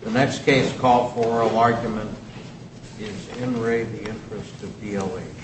The next case called for a argument is N. Ray v. Interest of D.L.H. The next case called for a argument is D.L.H.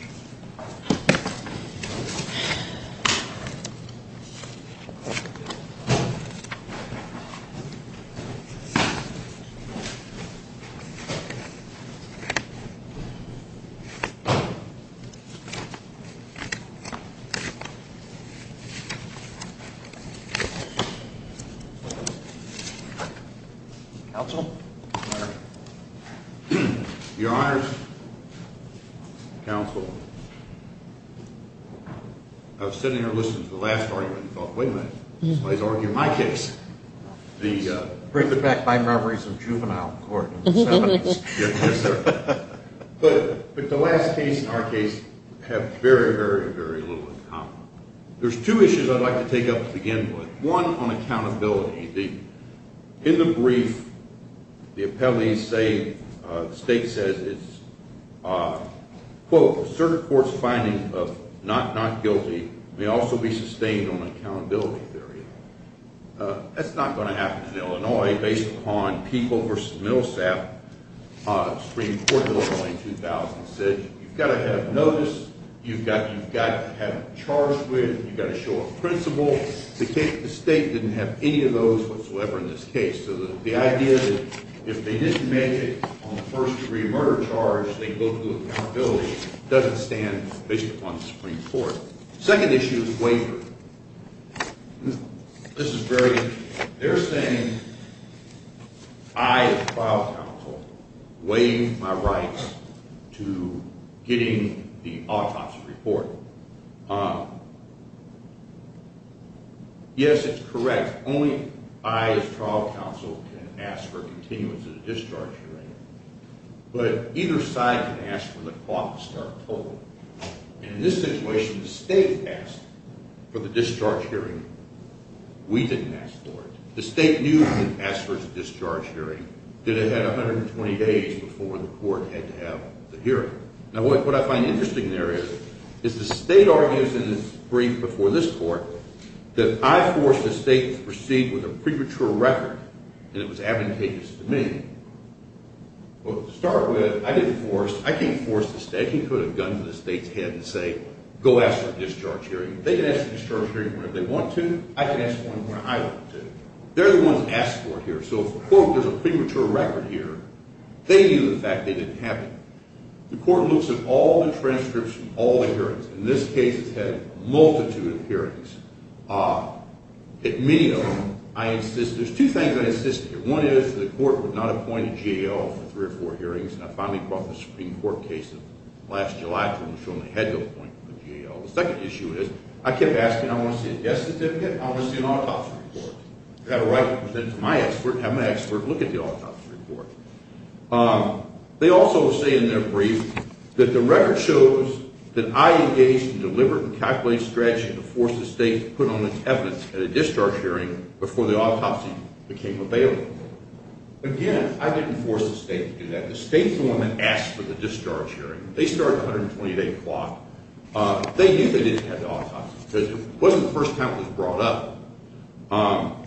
I was sitting here listening to the last argument and thought, wait a minute, somebody's arguing my case. Bring it back by memories of juvenile court in the 70s. Yes, sir. But the last case and our case have very, very, very little in common. There's two issues I'd like to take up to begin with. One, on accountability. In the brief, the appellees say, the state says it's, quote, a certain court's finding of not not guilty may also be sustained on accountability theory. That's not going to happen in Illinois based upon People v. Millsap. Supreme Court of Illinois in 2000 said you've got to have notice, you've got to have a charge with, you've got to show a principle. Well, the state didn't have any of those whatsoever in this case. So the idea that if they didn't make it on the first degree murder charge, they'd go through accountability, doesn't stand based upon the Supreme Court. Second issue is waiver. This is very interesting. They're saying I, as trial counsel, waive my rights to getting the autopsy report. Yes, it's correct. Only I, as trial counsel, can ask for continuance of the discharge hearing. But either side can ask for the court to start tolling. And in this situation, the state asked for the discharge hearing. We didn't ask for it. The state knew we didn't ask for the discharge hearing. It had 120 days before the court had to have the hearing. Now, what I find interesting there is the state argues in its brief before this court that I forced the state to proceed with a premature record, and it was advantageous to me. Well, to start with, I didn't force. I didn't force the state. I didn't put a gun to the state's head and say, go ask for a discharge hearing. They can ask for a discharge hearing whenever they want to. I can ask for one whenever I want to. They're the ones who asked for it here. So if the court gives a premature record here, they knew the fact they didn't have to. The court looks at all the transcripts from all the hearings. In this case, it's had a multitude of hearings. In many of them, I insist. There's two things I insist on here. One is the court would not appoint a GAO for three or four hearings, and I finally brought the Supreme Court case in last July to them to show them they had to appoint a GAO. The second issue is I kept asking, I want to see a death certificate, and I want to see an autopsy report. I've got a right to present it to my expert and have my expert look at the autopsy report. They also say in their brief that the record shows that I engaged in deliberate and calculated strategy to force the state to put on its evidence at a discharge hearing before the autopsy became available. Again, I didn't force the state to do that. The state's the one that asked for the discharge hearing. They started at 128 o'clock. They knew they didn't have the autopsy because it wasn't the first time it was brought up.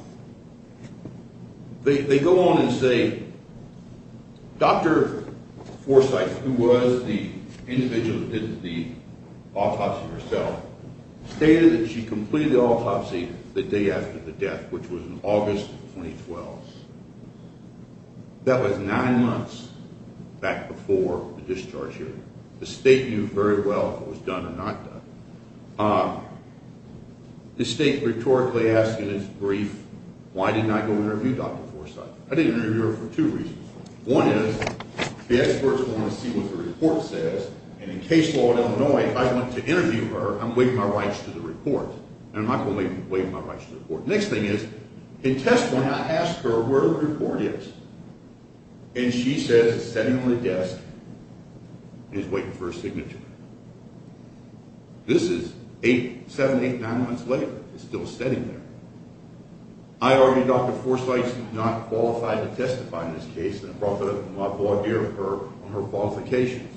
They go on and say Dr. Forsythe, who was the individual who did the autopsy herself, stated that she completed the autopsy the day after the death, which was in August of 2012. That was nine months back before the discharge hearing. The state knew very well if it was done or not done. The state rhetorically asked in its brief, why didn't I go interview Dr. Forsythe? I didn't interview her for two reasons. One is the experts want to see what the report says, and in case law in Illinois, if I want to interview her, I'm waiving my rights to the report, and I'm not going to waive my rights to the report. The next thing is, in testimony, I asked her where the report is, and she says it's sitting on the desk and is waiting for a signature. This is eight, seven, eight, nine months later. It's still sitting there. I argued Dr. Forsythe's not qualified to testify in this case, and I brought the idea of her on her qualifications.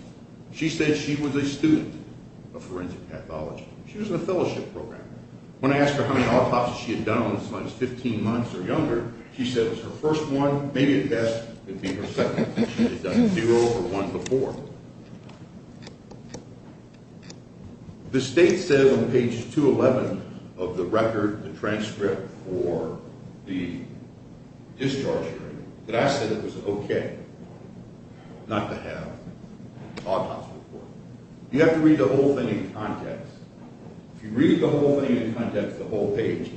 She said she was a student of forensic pathology. She was in a fellowship program. When I asked her how many autopsies she had done on this in the last 15 months or younger, she said it was her first one, maybe the best would be her second. She had done zero or one before. The state says on page 211 of the record, the transcript for the discharge hearing, that I said it was okay not to have an autopsy report. You have to read the whole thing in context. If you read the whole thing in context, the whole page,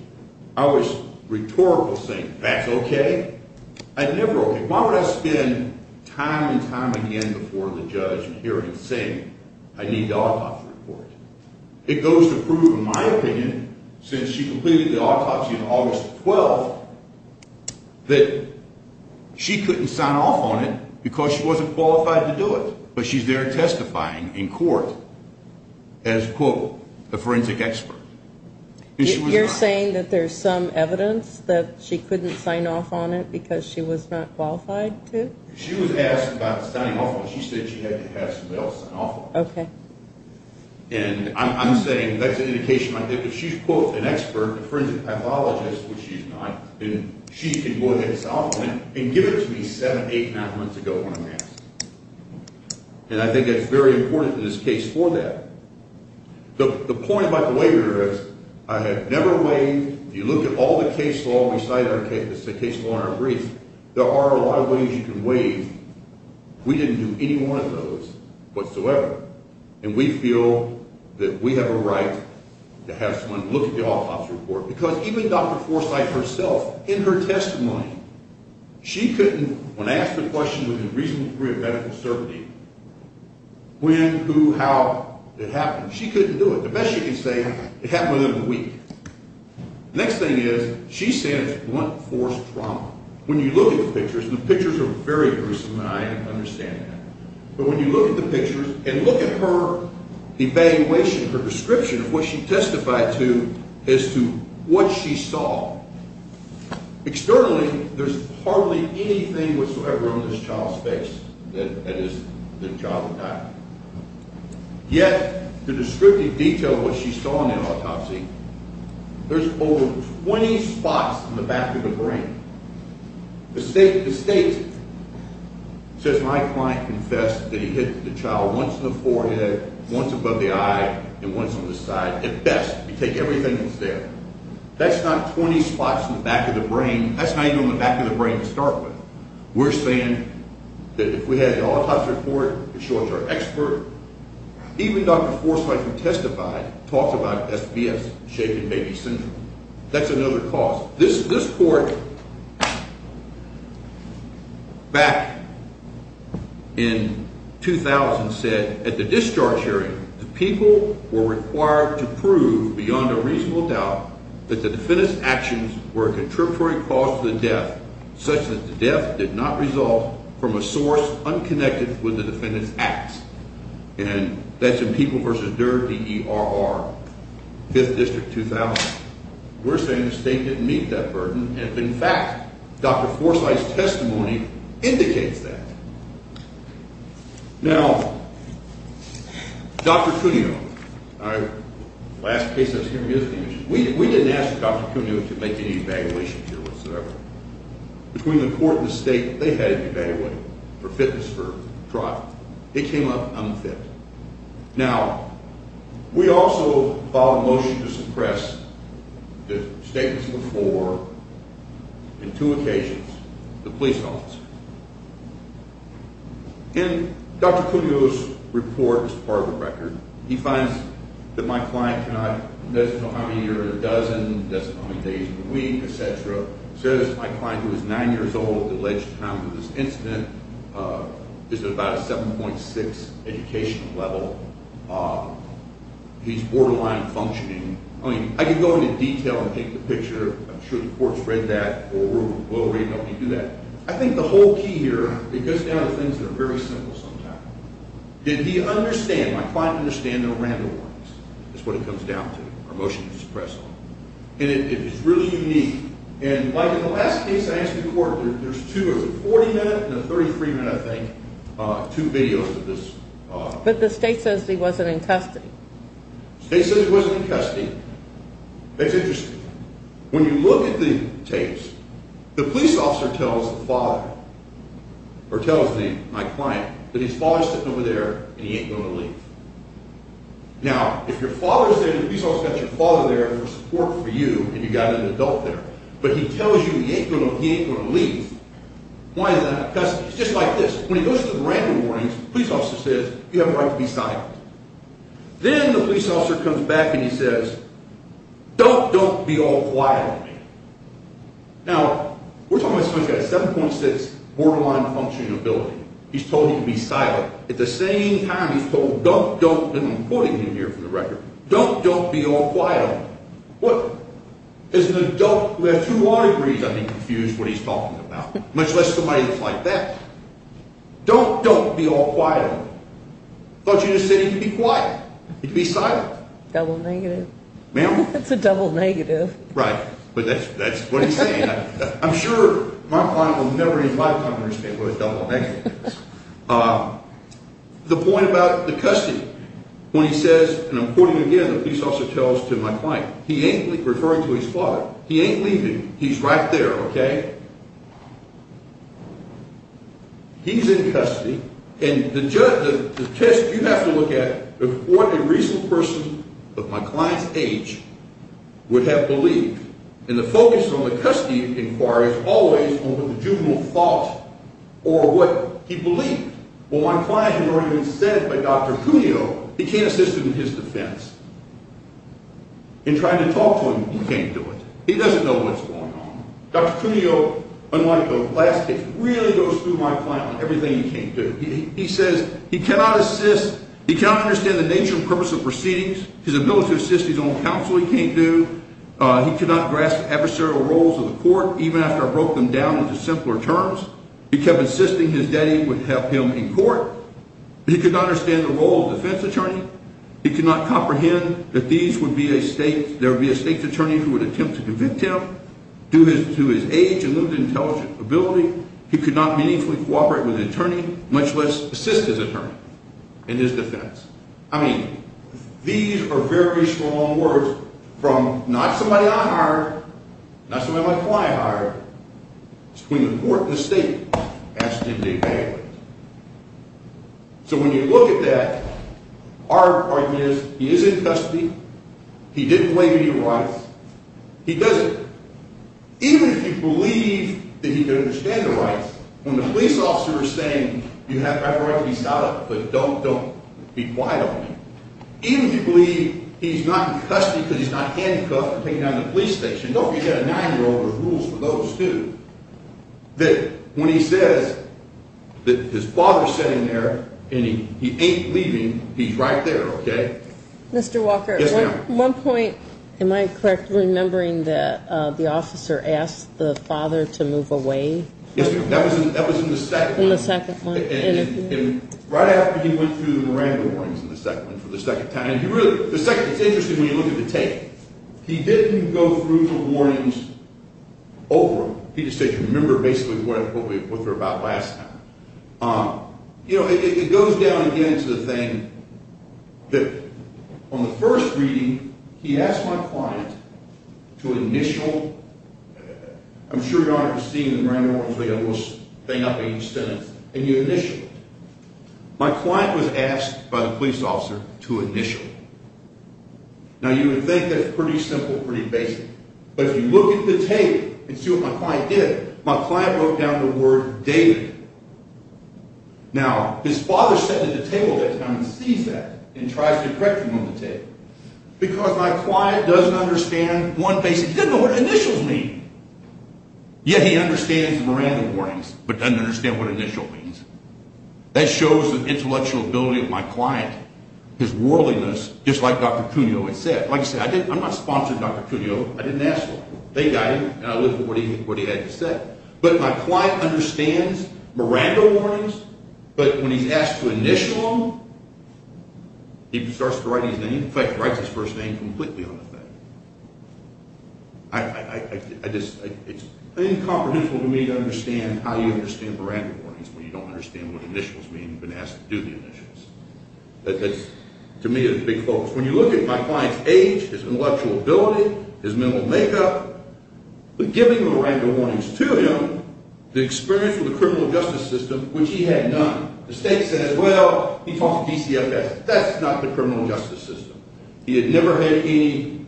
I was rhetorical saying that's okay. I'd never okay. Why would I spend time and time again before the judge in hearings saying I need the autopsy report? It goes to prove, in my opinion, since she completed the autopsy on August 12th, that she couldn't sign off on it because she wasn't qualified to do it, but she's there testifying in court as, quote, a forensic expert. You're saying that there's some evidence that she couldn't sign off on it because she was not qualified to? She was asked about signing off on it. She said she had to have somebody else sign off on it. Okay. And I'm saying that's an indication right there. But she's, quote, an expert, a forensic pathologist, which she's not, and she can go ahead and sign off on it and give it to me seven, eight, nine months ago when I'm asked. And I think that's very important in this case for that. The point about the waiver is I have never waived. If you look at all the case law, we cite our case law in our brief, there are a lot of ways you can waive. We didn't do any one of those whatsoever. And we feel that we have a right to have someone look at the autopsy report because even Dr. Forsythe herself, in her testimony, she couldn't, when asked a question with a reasonable degree of medical certainty, when, who, how it happened, she couldn't do it. The best she could say, it happened within a week. The next thing is she's saying it's blunt force trauma. When you look at the pictures, and the pictures are very gruesome, and I understand that, but when you look at the pictures and look at her evaluation, her description of what she testified to as to what she saw, externally there's hardly anything whatsoever on this child's face that is the child died. Yet the descriptive detail of what she saw in the autopsy, there's over 20 spots in the back of the brain. The state says my client confessed that he hit the child once in the forehead, once above the eye, and once on the side. At best, you take everything that's there. That's not 20 spots in the back of the brain. That's not even on the back of the brain to start with. We're saying that if we had an autopsy report to show it to our expert, even Dr. Forsythe, who testified, talked about SPS, shaken baby syndrome. That's another cause. This court back in 2000 said at the discharge hearing, the people were required to prove beyond a reasonable doubt that the defendant's actions were a contributory cause to the death, such that the death did not result from a source unconnected with the defendant's acts. And that's in People v. Durr, D-E-R-R, 5th District, 2000. We're saying the state didn't meet that burden. And, in fact, Dr. Forsythe's testimony indicates that. Now, Dr. Cuneo, last case I was hearing is the issue. We didn't ask Dr. Cuneo to make any evaluations here whatsoever. Between the court and the state, they had him evaluated for fitness for trial. It came up unfit. Now, we also filed a motion to suppress the statements before, on two occasions, the police officer. And Dr. Cuneo's report is part of the record. He finds that my client does not know how many days in a week, et cetera. He says my client, who is 9 years old at the alleged time of this incident, is at about a 7.6 educational level. He's borderline functioning. I mean, I could go into detail and take the picture. I'm sure the court's read that or will read it when we do that. I think the whole key here, it goes down to things that are very simple sometimes. Did he understand? My client understands there are random ones is what it comes down to, or motion to suppress them. And it is really unique. And, like, in the last case I asked the court, there's two. There's a 40-minute and a 33-minute, I think, two videos of this. But the state says he wasn't in custody. The state says he wasn't in custody. That's interesting. When you look at the tapes, the police officer tells the father, or tells my client that his father's sitting over there and he ain't going to leave. Now, if your father is there, the police officer's got your father there for support for you and you've got an adult there, but he tells you he ain't going to leave, why is that? Because it's just like this. When he goes through the random warnings, the police officer says, you have a right to be silent. Then the police officer comes back and he says, don't, don't be all quiet on me. Now, we're talking about someone who's got a 7.6 borderline functioning ability. He's told you to be silent. At the same time, he's told, don't, don't, and I'm quoting him here from the record, don't, don't be all quiet on me. What? As an adult who has two water degrees, I'd be confused what he's talking about, much less somebody that's like that. Don't, don't be all quiet on me. I thought you just said he could be quiet. He could be silent. Double negative. Ma'am? That's a double negative. Right. But that's what he's saying. I'm sure my client will never invite a cop to his table with a double negative. The point about the custody, when he says, and I'm quoting again, the police officer tells to my client, he ain't referring to his father. He ain't leaving. He's right there, okay? He's in custody. And the test you have to look at, what a recent person of my client's age would have believed. And the focus on the custody inquiry is always on what the juvenile thought or what he believed. Well, my client had already been said by Dr. Cuneo, he can't assist him in his defense. In trying to talk to him, he can't do it. He doesn't know what's going on. Dr. Cuneo, unlike the last case, really goes through my client on everything he can't do. He says he cannot assist, he cannot understand the nature and purpose of proceedings, his ability to assist his own counsel he can't do. He cannot grasp adversarial roles of the court, even after I broke them down into simpler terms. He kept insisting his daddy would help him in court. He could not understand the role of defense attorney. He could not comprehend that there would be a state attorney who would attempt to convict him due to his age and limited intelligence ability. He could not meaningfully cooperate with an attorney, much less assist his attorney in his defense. I mean, these are very strong words from not somebody I hired, not somebody my client hired, between the court and the state. That's Jim J. Bagley. So when you look at that, our argument is he is in custody, he didn't break any rights, he doesn't. Even if you believe that he can understand the rights, when the police officer is saying you have every right to be shot up, but don't be quiet on me, even if you believe he's not in custody because he's not handcuffed and taken out of the police station, don't forget a 9-year-old has rules for those, too. When he says that his father is sitting there and he ain't leaving, he's right there, okay? Mr. Walker, one point. Am I correct in remembering that the officer asked the father to move away? Yes, ma'am. That was in the second one. In the second one. And right after he went through the Miranda warnings in the second one, for the second time, and the second is interesting when you look at the tape. He didn't go through the warnings over them. He just said, remember basically what we were about last time. You know, it goes down again to the thing that on the first reading, he asked my client to initial, I'm sure you all have seen the Miranda warnings, they got a little thing up in each sentence, and you initial it. My client was asked by the police officer to initial. Now, you would think that's pretty simple, pretty basic, but if you look at the tape and see what my client did, my client wrote down the word David. Now, his father sat at the table that time and sees that and tries to correct him on the tape because my client doesn't understand one basic, he doesn't know what initials mean. Yet he understands the Miranda warnings, but doesn't understand what initial means. That shows the intellectual ability of my client, his worldliness, just like Dr. Cuneo had said. Like I said, I'm not sponsoring Dr. Cuneo, I didn't ask for him. They got him, and I lived with what he had to say. But my client understands Miranda warnings, but when he's asked to initial them, he starts to write his name, completely on the thing. It's incomprehensible to me to understand how you understand Miranda warnings when you don't understand what initials mean when you've been asked to do the initials. That, to me, is a big focus. When you look at my client's age, his intellectual ability, his mental makeup, but giving Miranda warnings to him, the experience with the criminal justice system, which he had none. The state says, well, he fought the DCFS. That's not the criminal justice system. He had never had any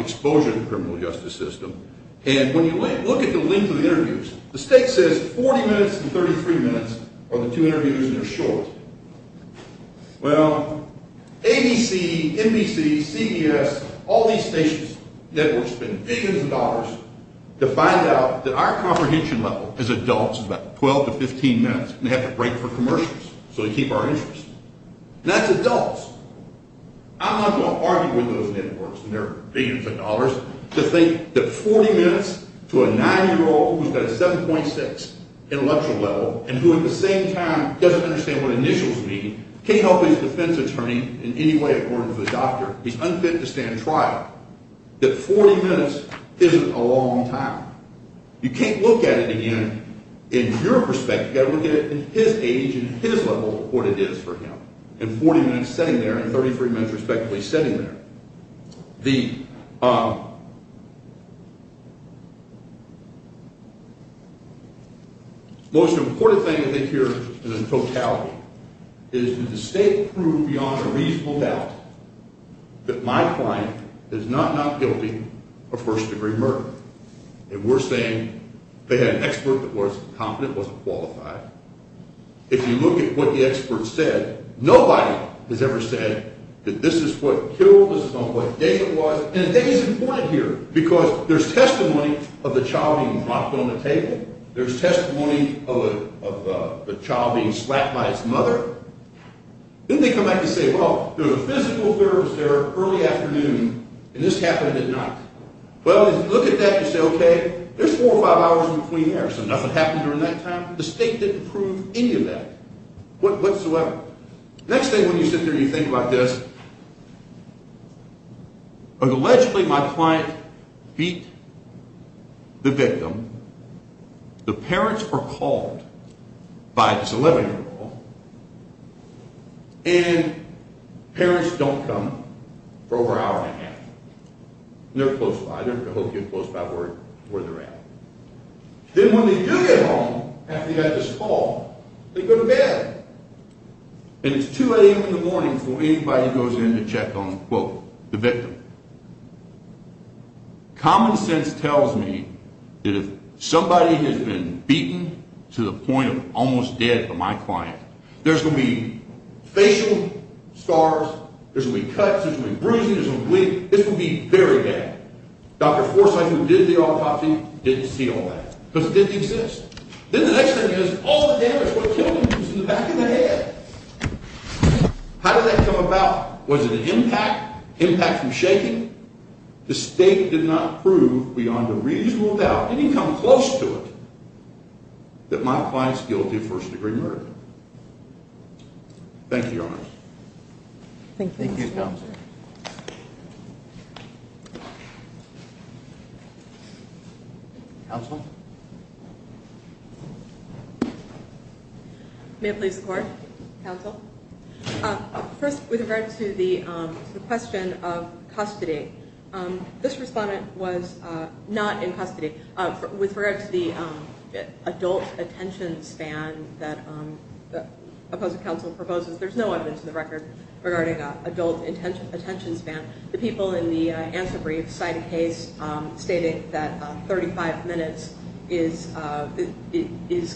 exposure to the criminal justice system. And when you look at the length of the interviews, the state says 40 minutes and 33 minutes are the two interviews, and they're short. Well, ABC, NBC, CBS, all these stations, networks spend billions of dollars to find out that our comprehension level as adults is about 12 to 15 minutes, and they have to break for commercials so they keep our interest. And that's adults. I'm not going to argue with those networks and their billions of dollars to think that 40 minutes to a 9-year-old who's got a 7.6 intellectual level and who, at the same time, doesn't understand what initials mean, can't help his defense attorney in any way according to the doctor, he's unfit to stand trial, that 40 minutes isn't a long time. You can't look at it again in your perspective. You've got to look at it in his age and his level of what it is for him. And 40 minutes sitting there and 33 minutes respectively sitting there. The most important thing I think here is the totality, is did the state prove beyond a reasonable doubt that my client is not not guilty of first-degree murder? And we're saying they had an expert that was competent, wasn't qualified. If you look at what the expert said, nobody has ever said that this is what killed, this is not what gave it was. And the thing is important here because there's testimony of the child being knocked on the table. There's testimony of the child being slapped by his mother. Then they come back and say, well, there was a physical affair that was there early afternoon and this happened at night. Well, if you look at that, you say, OK, there's four or five hours in between there, so nothing happened during that time. The state didn't prove any of that whatsoever. Next thing when you sit there and you think about this, allegedly my client beat the victim. The parents were called by this 11-year-old and parents don't come for over an hour and a half. They're close by. They're not worried where they're at. Then when they do get home after they've had this fall, they go to bed. And it's 2 a.m. in the morning before anybody goes in to check on, quote, the victim. Common sense tells me that if somebody has been beaten to the point of almost dead by my client, there's going to be facial scars, there's going to be cuts, there's going to be bruising, there's going to be bleeding. This would be very bad. Dr. Forsythe who did the autopsy didn't see all that because it didn't exist. Then the next thing is, all the damage would have killed him because he was in the back of the head. How did that come about? Was it an impact? Impact from shaking? The state did not prove, beyond a reasonable doubt, didn't even come close to it, that my client is guilty of first-degree murder. Thank you, Your Honor. Thank you, Counsel. Counsel? May it please the Court? Counsel? First, with regard to the question of custody, this respondent was not in custody. With regard to the adult attention span that the opposing counsel proposes, there's no evidence in the record regarding adult attention span. The people in the answer brief cite a case stating that 35 minutes is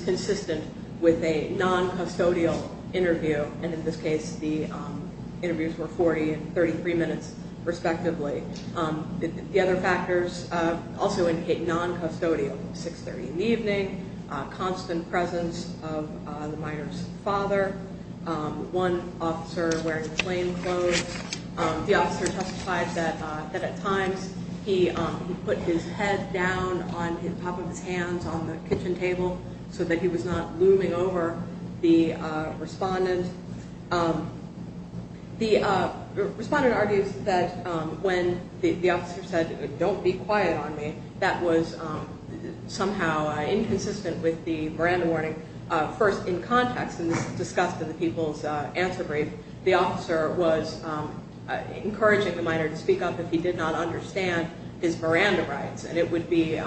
consistent with a non-custodial interview, and in this case the interviews were 40 and 33 minutes, respectively. The other factors also indicate non-custodial 6.30 in the evening, constant presence of the minor's father, one officer wearing plain clothes. The officer testified that at times he put his head down on the top of his hands on the kitchen table so that he was not looming over the respondent. The respondent argues that when the officer said, don't be quiet on me, that was somehow inconsistent with the Miranda warning. First, in context, and this was discussed in the people's answer brief, the officer was encouraging the minor to speak up if he did not understand his Miranda rights, and it would be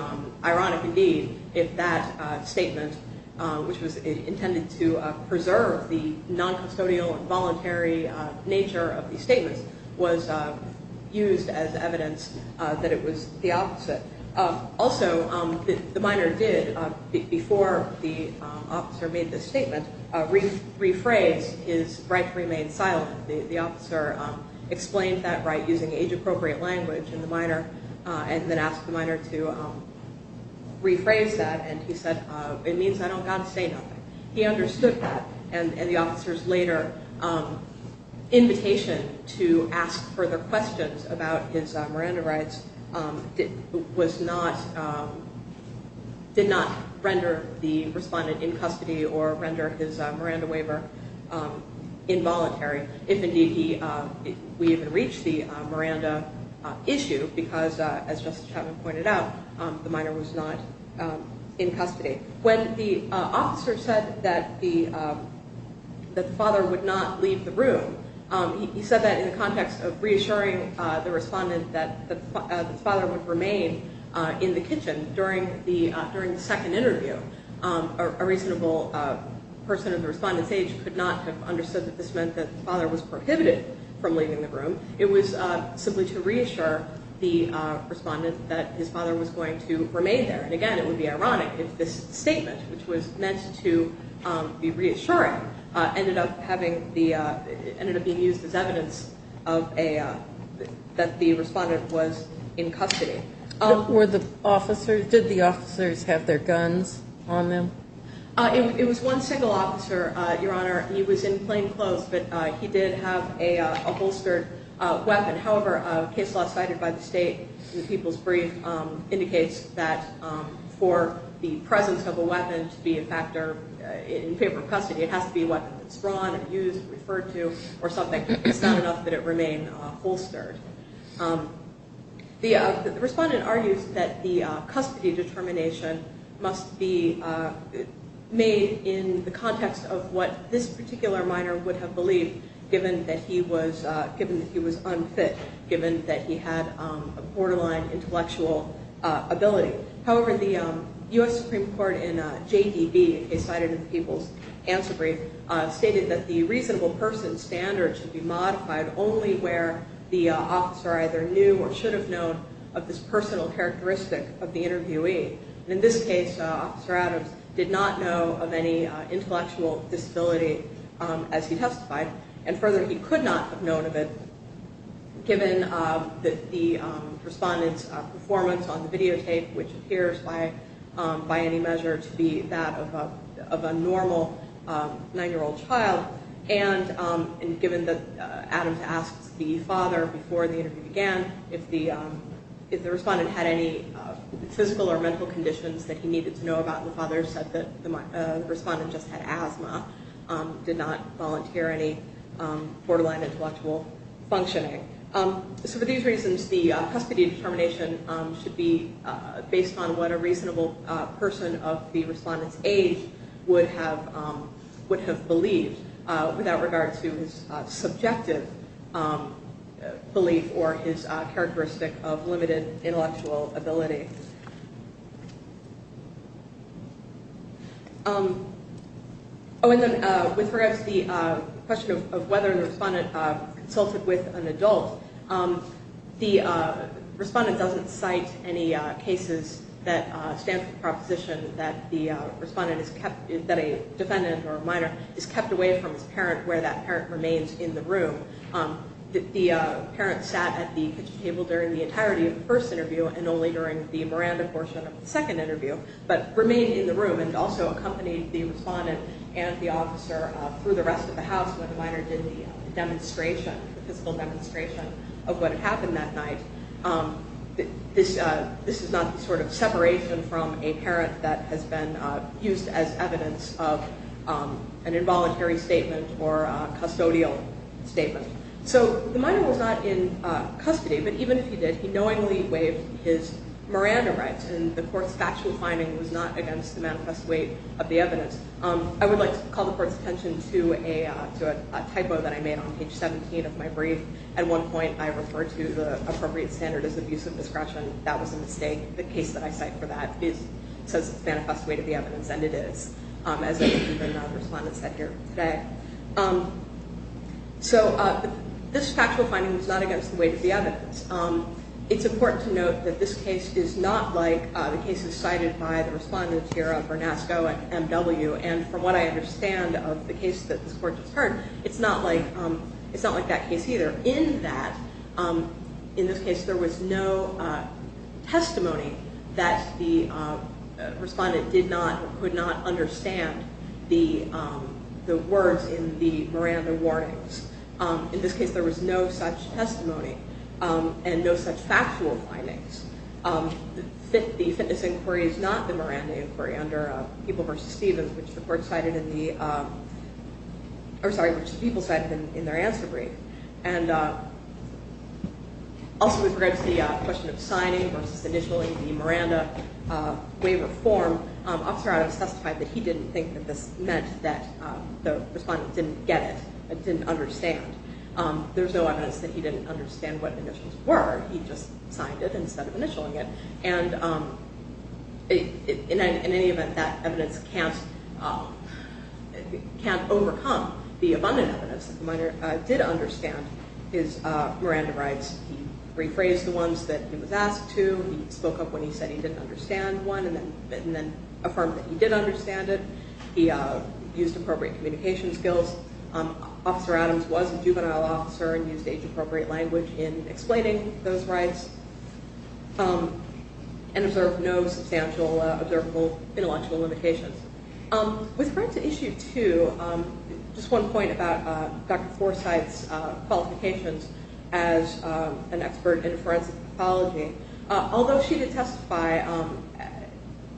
ironic indeed if that statement, which was intended to preserve the non-custodial and voluntary nature of the evidence, that it was the opposite. Also, the minor did, before the officer made this statement, rephrase his right to remain silent. The officer explained that right using age-appropriate language in the minor and then asked the minor to rephrase that, and he said, it means I don't got to say nothing. He understood that, and the officer's later invitation to ask further questions about his Miranda rights did not render the respondent in custody or render his Miranda waiver involuntary, if indeed we even reached the Miranda issue, because as Justice Chapman pointed out, the minor was not in custody. When the officer said that the father would not leave the room, he said that in the context of reassuring the respondent that the father would remain in the kitchen during the second interview. A reasonable person of the respondent's age could not have understood that this meant that the father was prohibited from leaving the room. It was simply to reassure the respondent that his father was going to remain there, and again, it would be ironic if this statement, which was meant to be reassuring, ended up being used as evidence that the respondent was in custody. Did the officers have their guns on them? It was one single officer, Your Honor. He was in plain clothes, but he did have a holstered weapon. However, a case law cited by the state in the People's Brief indicates that for the presence of a weapon to be in favor of custody, it has to be a weapon that's drawn, used, referred to, or something. It's not enough that it remain holstered. The respondent argues that the custody determination must be made in the context of what this particular minor would have believed, given that he was unfit, given that he had a borderline intellectual ability. However, the U.S. Supreme Court in JDB, a case cited in the People's Answer Brief, stated that the reasonable person standard should be modified only where the officer either knew or should have known of this personal characteristic of the interviewee. In this case, Officer Adams did not know of any intellectual disability as he testified, and further, he could not have known of it, given that the respondent's performance on the videotape, which appears by any measure to be that of a normal nine-year-old child, and given that Adams asked the father before the interview began if the respondent had any physical or mental conditions that he needed to know about, and the father said that the respondent just had asthma, did not volunteer any borderline intellectual functioning. For these reasons, the custody determination should be based on what a reasonable person of the respondent's age would have believed without regard to his subjective belief or his characteristic of limited intellectual ability. Oh, and then with regards to the question of whether the respondent consulted with an adult, the respondent doesn't cite any cases that stand for the proposition that the respondent is kept, that a defendant or minor is kept away from his parent where that parent remains in the room. The parent sat at the kitchen table during the entirety of the first interview and only during the Miranda portion of the second interview, but remained in the room and also accompanied the respondent and the officer through the rest of the house when the minor did the physical demonstration of what had happened that night. This is not the sort of separation from a parent that has been used as evidence of an involuntary statement or a custodial statement. So the minor was not in custody, but even if he did, he knowingly waived his Miranda rights, and the court's factual finding was not against the manifest weight of the evidence. I would like to call the court's attention to a brief. At one point, I referred to the appropriate standard as abuse of discretion. That was a mistake. The case that I cite for that says it's manifest weight of the evidence, and it is, as the respondent said here today. So this factual finding was not against the weight of the evidence. It's important to note that this case is not like the cases cited by the respondents here of Bernasco and M.W., and from what I understand of the case that this court just heard, it's not like that case either, in that in this case, there was no testimony that the respondent did not or could not understand the words in the Miranda warnings. In this case, there was no such testimony, and no such factual findings. The fitness inquiry is not the Miranda inquiry under People v. Stevens, which the court cited in the I'm sorry, which the people cited in their answer brief. And also with regards to the question of signing versus initialing the Miranda waiver form, Officer Adams testified that he didn't think that this meant that the respondent didn't get it, didn't understand. There's no evidence that he didn't understand what the initials were. He just signed it instead of initialing it. And in any event, that evidence can't overcome the abundant evidence that the minor did understand his Miranda rights. He rephrased the ones that he was asked to, he spoke up when he said he didn't understand one, and then affirmed that he did understand it. He used appropriate communication skills. Officer Adams was a juvenile officer and used age-appropriate language in explaining those rights. And observed no substantial observable intellectual limitations. With regards to Issue 2, just one point about Dr. Forsythe's qualifications as an expert in forensic pathology. Although she did testify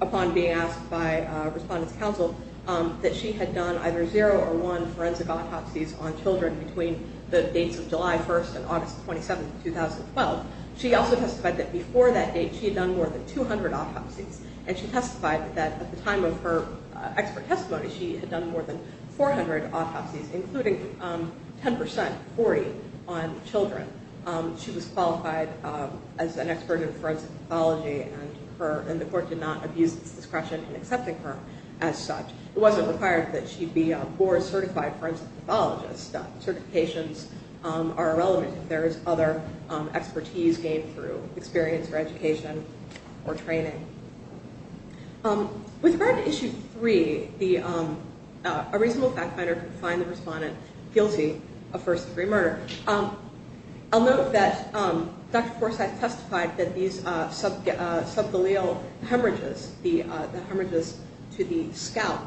upon being asked by Respondent's Council that she had done either 0 or 1 forensic autopsies on children between the dates of July 1st and August 27th, 2012. She also testified that before that date, she had done more than 200 autopsies. And she testified that at the time of her expert testimony, she had done more than 400 autopsies, including 10%, 40 on children. She was qualified as an expert in forensic pathology and the court did not abuse its discretion in accepting her as such. It wasn't required that she be a BOAR certified forensic pathologist. Certifications are irrelevant if there is other expertise gained through experience or education or training. With regard to Issue 3, a reasonable fact finder can find the Respondent guilty of first degree murder. I'll note that Dr. Forsythe testified that these subthaleal hemorrhages, the hemorrhages to the scalp,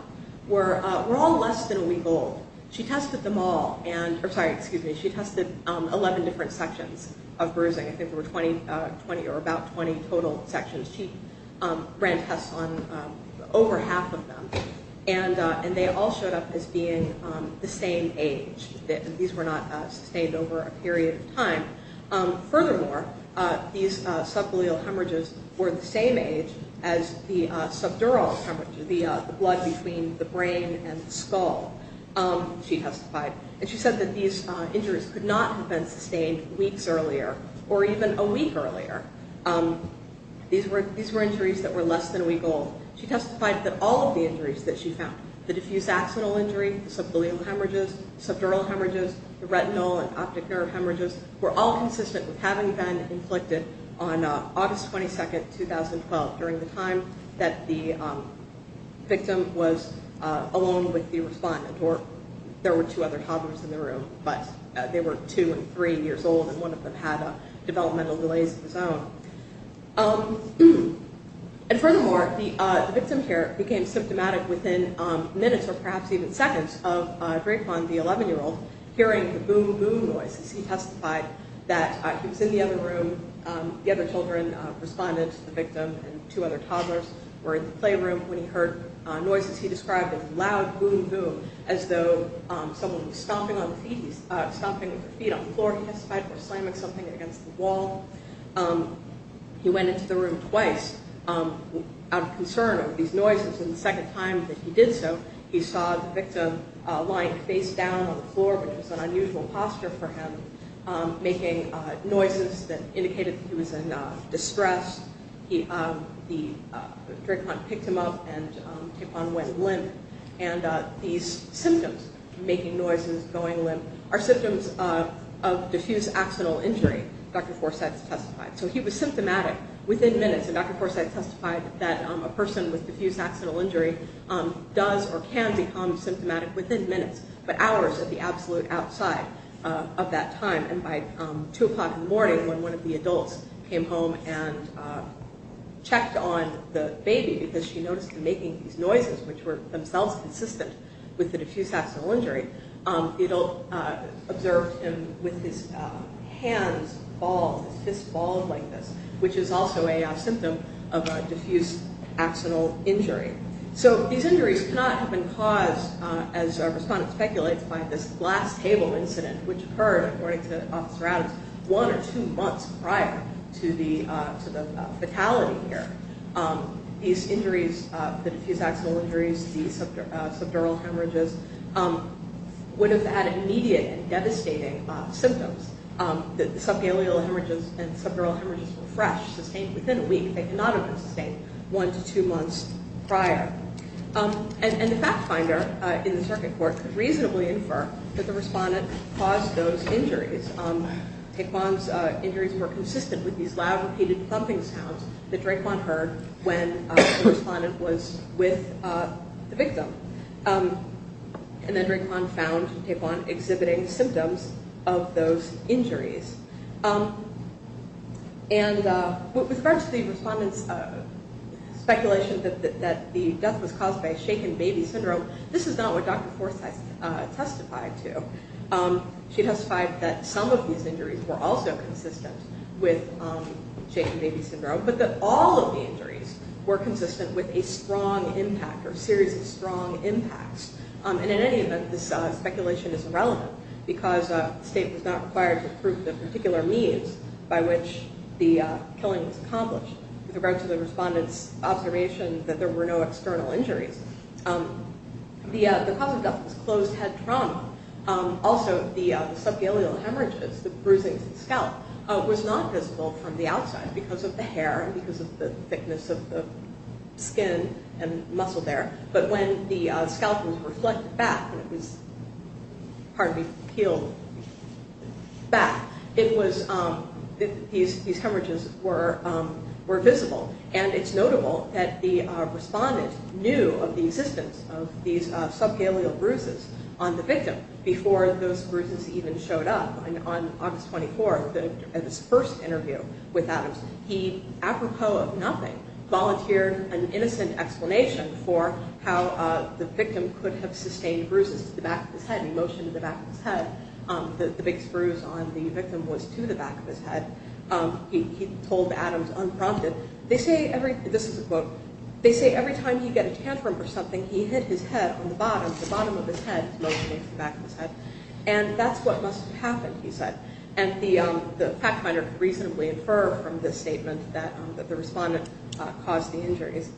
were all less than a week old. She tested them all. She tested 11 different sections of bruising. I think there were 20 or about 20 total sections. She ran tests on over half of them. And they all showed up as being the same age. These were not sustained over a period of time. Furthermore, these subthaleal hemorrhages were the same age as the subdural hemorrhages, the blood between the brain and the skull. She testified. And she said that these injuries could not have been sustained weeks earlier or even a week earlier. These were injuries that were less than a week old. She testified that all of the injuries that she found, the diffuse axonal injury, the subthaleal hemorrhages, the subdural hemorrhages, the retinal and optic nerve hemorrhages, were all consistent with having been inflicted on August 22, 2012 during the time that the victim was alone with the Respondent and there were two other toddlers in the room, but they were two and three years old and one of them had developmental delays of his own. And furthermore, the victim here became symptomatic within minutes or perhaps even seconds of the 11-year-old hearing the boom boom noises. He testified that he was in the other room, the other children, Respondent, the victim, and two other toddlers were in the playroom when he heard noises he described as loud boom boom, as though someone was stomping with their feet on the floor. He testified they were slamming something against the wall. He went into the room twice out of concern of these noises and the second time that he did so, he saw the victim lying face down on the floor which was an unusual posture for him, making noises that indicated that he was in distress. The victim went limp and these symptoms, making noises, going limp, are symptoms of diffuse axonal injury, Dr. Forsythe testified. So he was symptomatic within minutes and Dr. Forsythe testified that a person with diffuse axonal injury does or can become symptomatic within minutes, but hours at the absolute outside of that time and by two o'clock in the morning when one of the adults came home and checked on the baby because she noticed him making these noises which were themselves consistent with the diffuse axonal injury, it observed him with his hands bald, his fists bald like this which is also a symptom of a diffuse axonal injury. So these injuries cannot have been caused, as our respondent speculates, by this glass table incident which occurred, according to Officer Adams, one or two months prior to the fatality here. These injuries, the diffuse axonal injuries, the subdural hemorrhages, would have had immediate and devastating symptoms. The subgaleal hemorrhages and subdural hemorrhages were fresh, sustained within a week, they could not have been sustained one to two months prior. And the fact finder in the circuit court could reasonably infer that the respondent caused those injuries. Taekwon's injuries were consistent with these loud repeated thumping sounds that Taekwon heard when the respondent was with the victim. And then Taekwon found Taekwon exhibiting symptoms of those injuries. And with regards to the respondent's speculation that the death was caused by shaken baby syndrome, this is not what Dr. Forsyth testified to. She testified that some of these injuries were consistent with shaken baby syndrome, but that all of the injuries were consistent with a strong impact or series of strong impacts. And in any event, this speculation is irrelevant because the state was not required to prove the particular means by which the killing was accomplished. With regards to the respondent's observation that there were no external injuries, the cause of death was closed head trauma. Also, the subgaleal hemorrhages, the bruising to the scalp, was not visible from the outside because of the hair and because of the thickness of the skin and muscle there. But when the scalp was reflected back, pardon me, peeled back, these hemorrhages were visible. And it's notable that the respondent knew of the existence of these subgaleal bruises on the victim before those bruises even showed up on August 24th at his first interview with Adams. He, apropos of nothing, volunteered an innocent explanation for how the victim could have sustained bruises to the back of his head. He motioned to the back of his head. The big spruce on the victim was to the back of his head. He told Adams unprompted, they say every, this is a quote, they say every time he'd get a tantrum or something, he'd hit his head on the bottom, the bottom of his head, motioning to the back of his head. And that's what must have happened, he said. And the fact finder could reasonably infer from this statement that the respondent caused the injuries.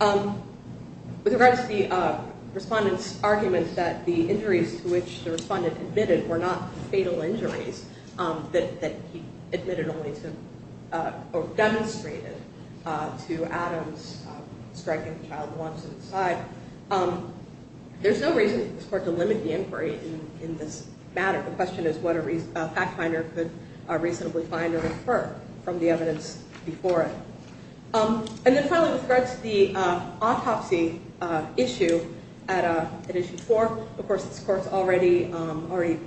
With regards to the respondent's argument that the injuries to which the respondent admitted were not fatal injuries, that he admitted only to or demonstrated to Adams striking the child once at his side, there's no reason for this Court to limit the inquiry in this matter. The question is what a fact finder could reasonably find or infer from the evidence before it. And then finally with regards to the autopsy issue at Issue 4, of course this Court's already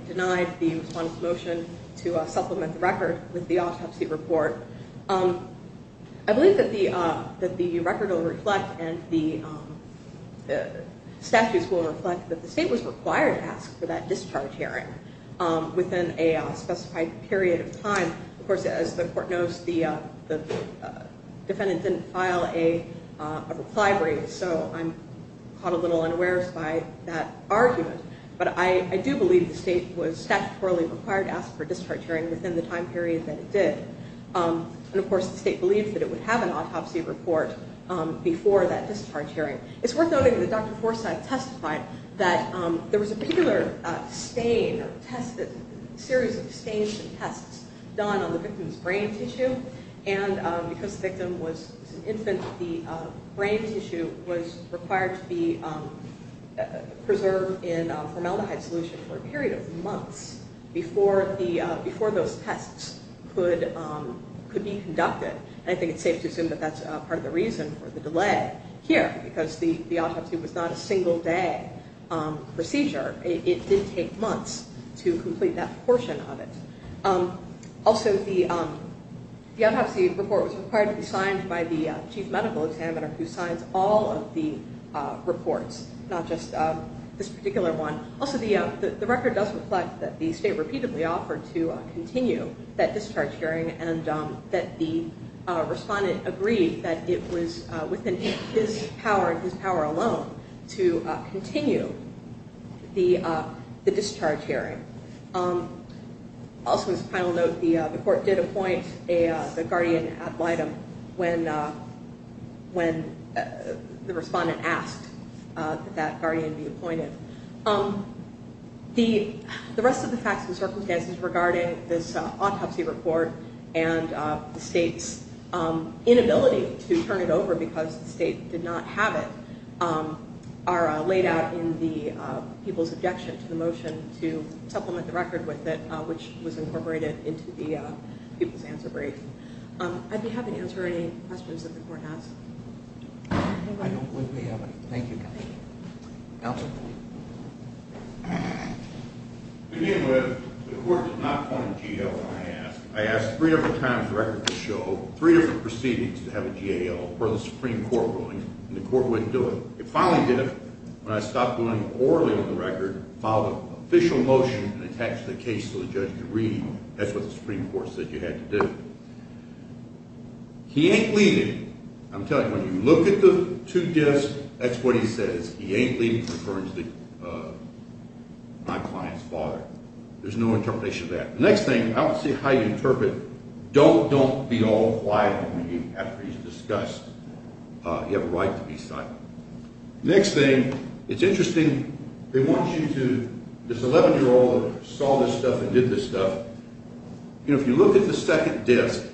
denied the respondent's motion to supplement the record with the autopsy report. I believe that the record will the statutes will reflect that the State was required to ask for that discharge hearing within a specified period of time. Of course, as the Court knows, the defendant didn't file a reply brief, so I'm caught a little unawares by that argument. But I do believe the State was statutorily required to ask for a discharge hearing within the time period that it did. And of course the State believed that it would have an autopsy report before that discharge hearing. It's worth noting that Dr. Forsythe testified that there was a regular stain or test series of stains and tests done on the victim's brain tissue and because the victim was an infant, the brain tissue was required to be preserved in formaldehyde solution for a period of months before the before those tests could be conducted. I think it's safe to assume that that's part of the reason for the delay here because the autopsy was not a single day procedure. It did take months to complete that portion of it. Also, the autopsy report was required to be signed by the Chief Medical Examiner who signs all of the reports, not just this particular one. Also, the record does reflect that the State repeatedly offered to continue that and the respondent agreed that it was within his power and his power alone to continue the discharge hearing. Also, as a final note, the Court did appoint a guardian ad litem when the respondent asked that guardian be appointed. The rest of the facts and circumstances regarding this inability to turn it over because the State did not have it are laid out in the people's objection to the motion to supplement the record with it, which was incorporated into the people's answer brief. I'd be happy to answer any questions that the Court has. I don't believe we have any. Thank you, Counselor. Counselor? To begin with, the Court did not point to G.L. when I asked. I asked three different times for the record to show three different proceedings to have a G.L., per the Supreme Court ruling, and the Court wouldn't do it. It finally did it when I stopped going orally with the record, filed an official motion, and attached the case to the judge to read. That's what the Supreme Court said you had to do. He ain't leaving. I'm telling you, when you look at the two gifts, that's what he says. He ain't leaving in reference to my client's father. There's no way to interpret, don't, don't be all quiet with me after he's discussed. You have a right to be silent. Next thing, it's interesting, they want you to, this 11-year-old that saw this stuff and did this stuff, you know, if you look at the second disc,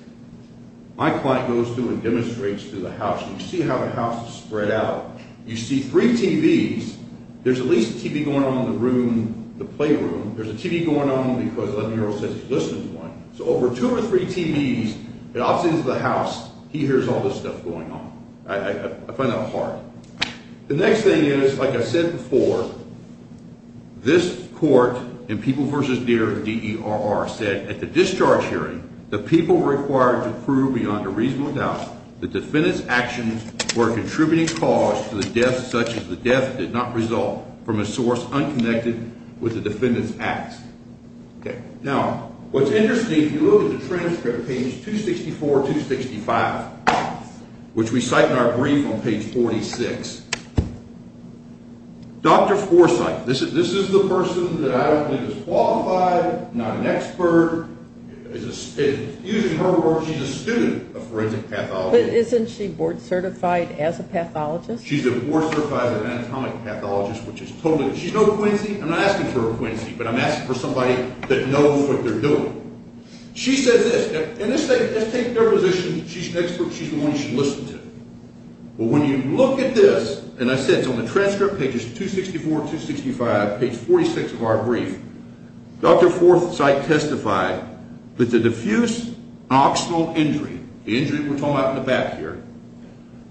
my client goes through and demonstrates through the house. You see how the house is spread out. You see three TVs. There's at least a TV going on in the room, the playroom. There's a TV going on because the 11-year-old says he's listening to one. So over two or three TVs, it observes the house, he hears all this stuff going on. I find that hard. The next thing is, like I said before, this court, in People v. Deer, D-E-R-R, said at the discharge hearing, the people were required to prove beyond a reasonable doubt the defendant's actions were a contributing cause to the death such as the death did not result from a source unconnected with the defendant's acts. Now, what's interesting, if you look at the transcript, page 264, 265, which we cite in our brief on page 46, Dr. Forsythe, this is the person that I don't believe is qualified, not an expert, is a student of forensic pathology. But isn't she board certified as a pathologist? She's a board certified anatomic pathologist, which is totally, she's no Quincy, I'm not asking for a Quincy, but I'm asking for somebody that knows what they're doing. She says this, and let's take their position, she's an expert, she's the one you should listen to. But when you look at this, and I said it's on the transcript, pages 264, 265, page 46 of our brief, Dr. Forsythe testified that the diffuse noxional injury, the injury we're talking about in the back here,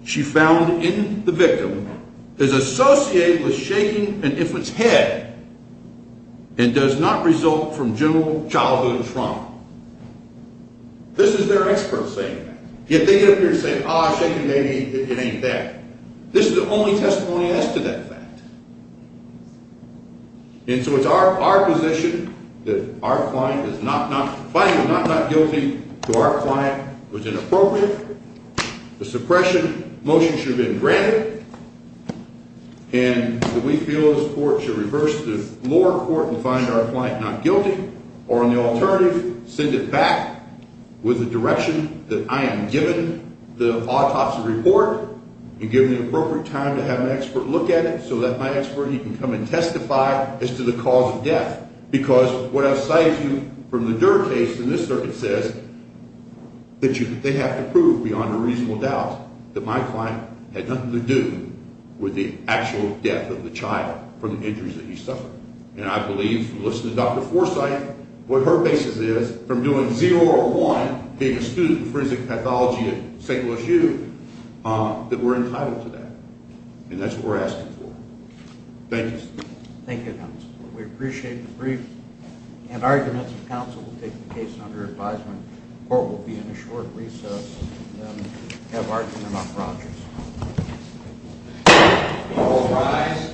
she found in the victim is associated with shaking an infant's head and does not result from general childhood trauma. This is their expert saying that. Yet they get up here and say, ah, shaking baby, it ain't that. This is the only testimony as to that fact. And so it's our position that our client is not not, finding the not not guilty to our client was inappropriate, the suppression motion should have been granted, and that we feel this court should reverse the lower court and find our client not guilty, or on the alternative, send it back with the direction that I am given the autopsy report, and given the appropriate time to have an expert look at it so that my expert, he can come and testify as to the cause of death. Because what I've cited to you from the Durr case in this circuit says that they have to prove beyond a reasonable doubt that my client had nothing to do with the actual death of the child from the injuries that he suffered. And I believe, from listening to Dr. Forsythe, what her basis is, from doing zero or one, being a student of forensic pathology at St. Louis U, that we're entitled to that. And that's what we're asking for. Thank you, sir. Thank you, counsel. We appreciate the brief and arguments of counsel to take the case under advisement. The court will be in a short recess, and have argument on projects.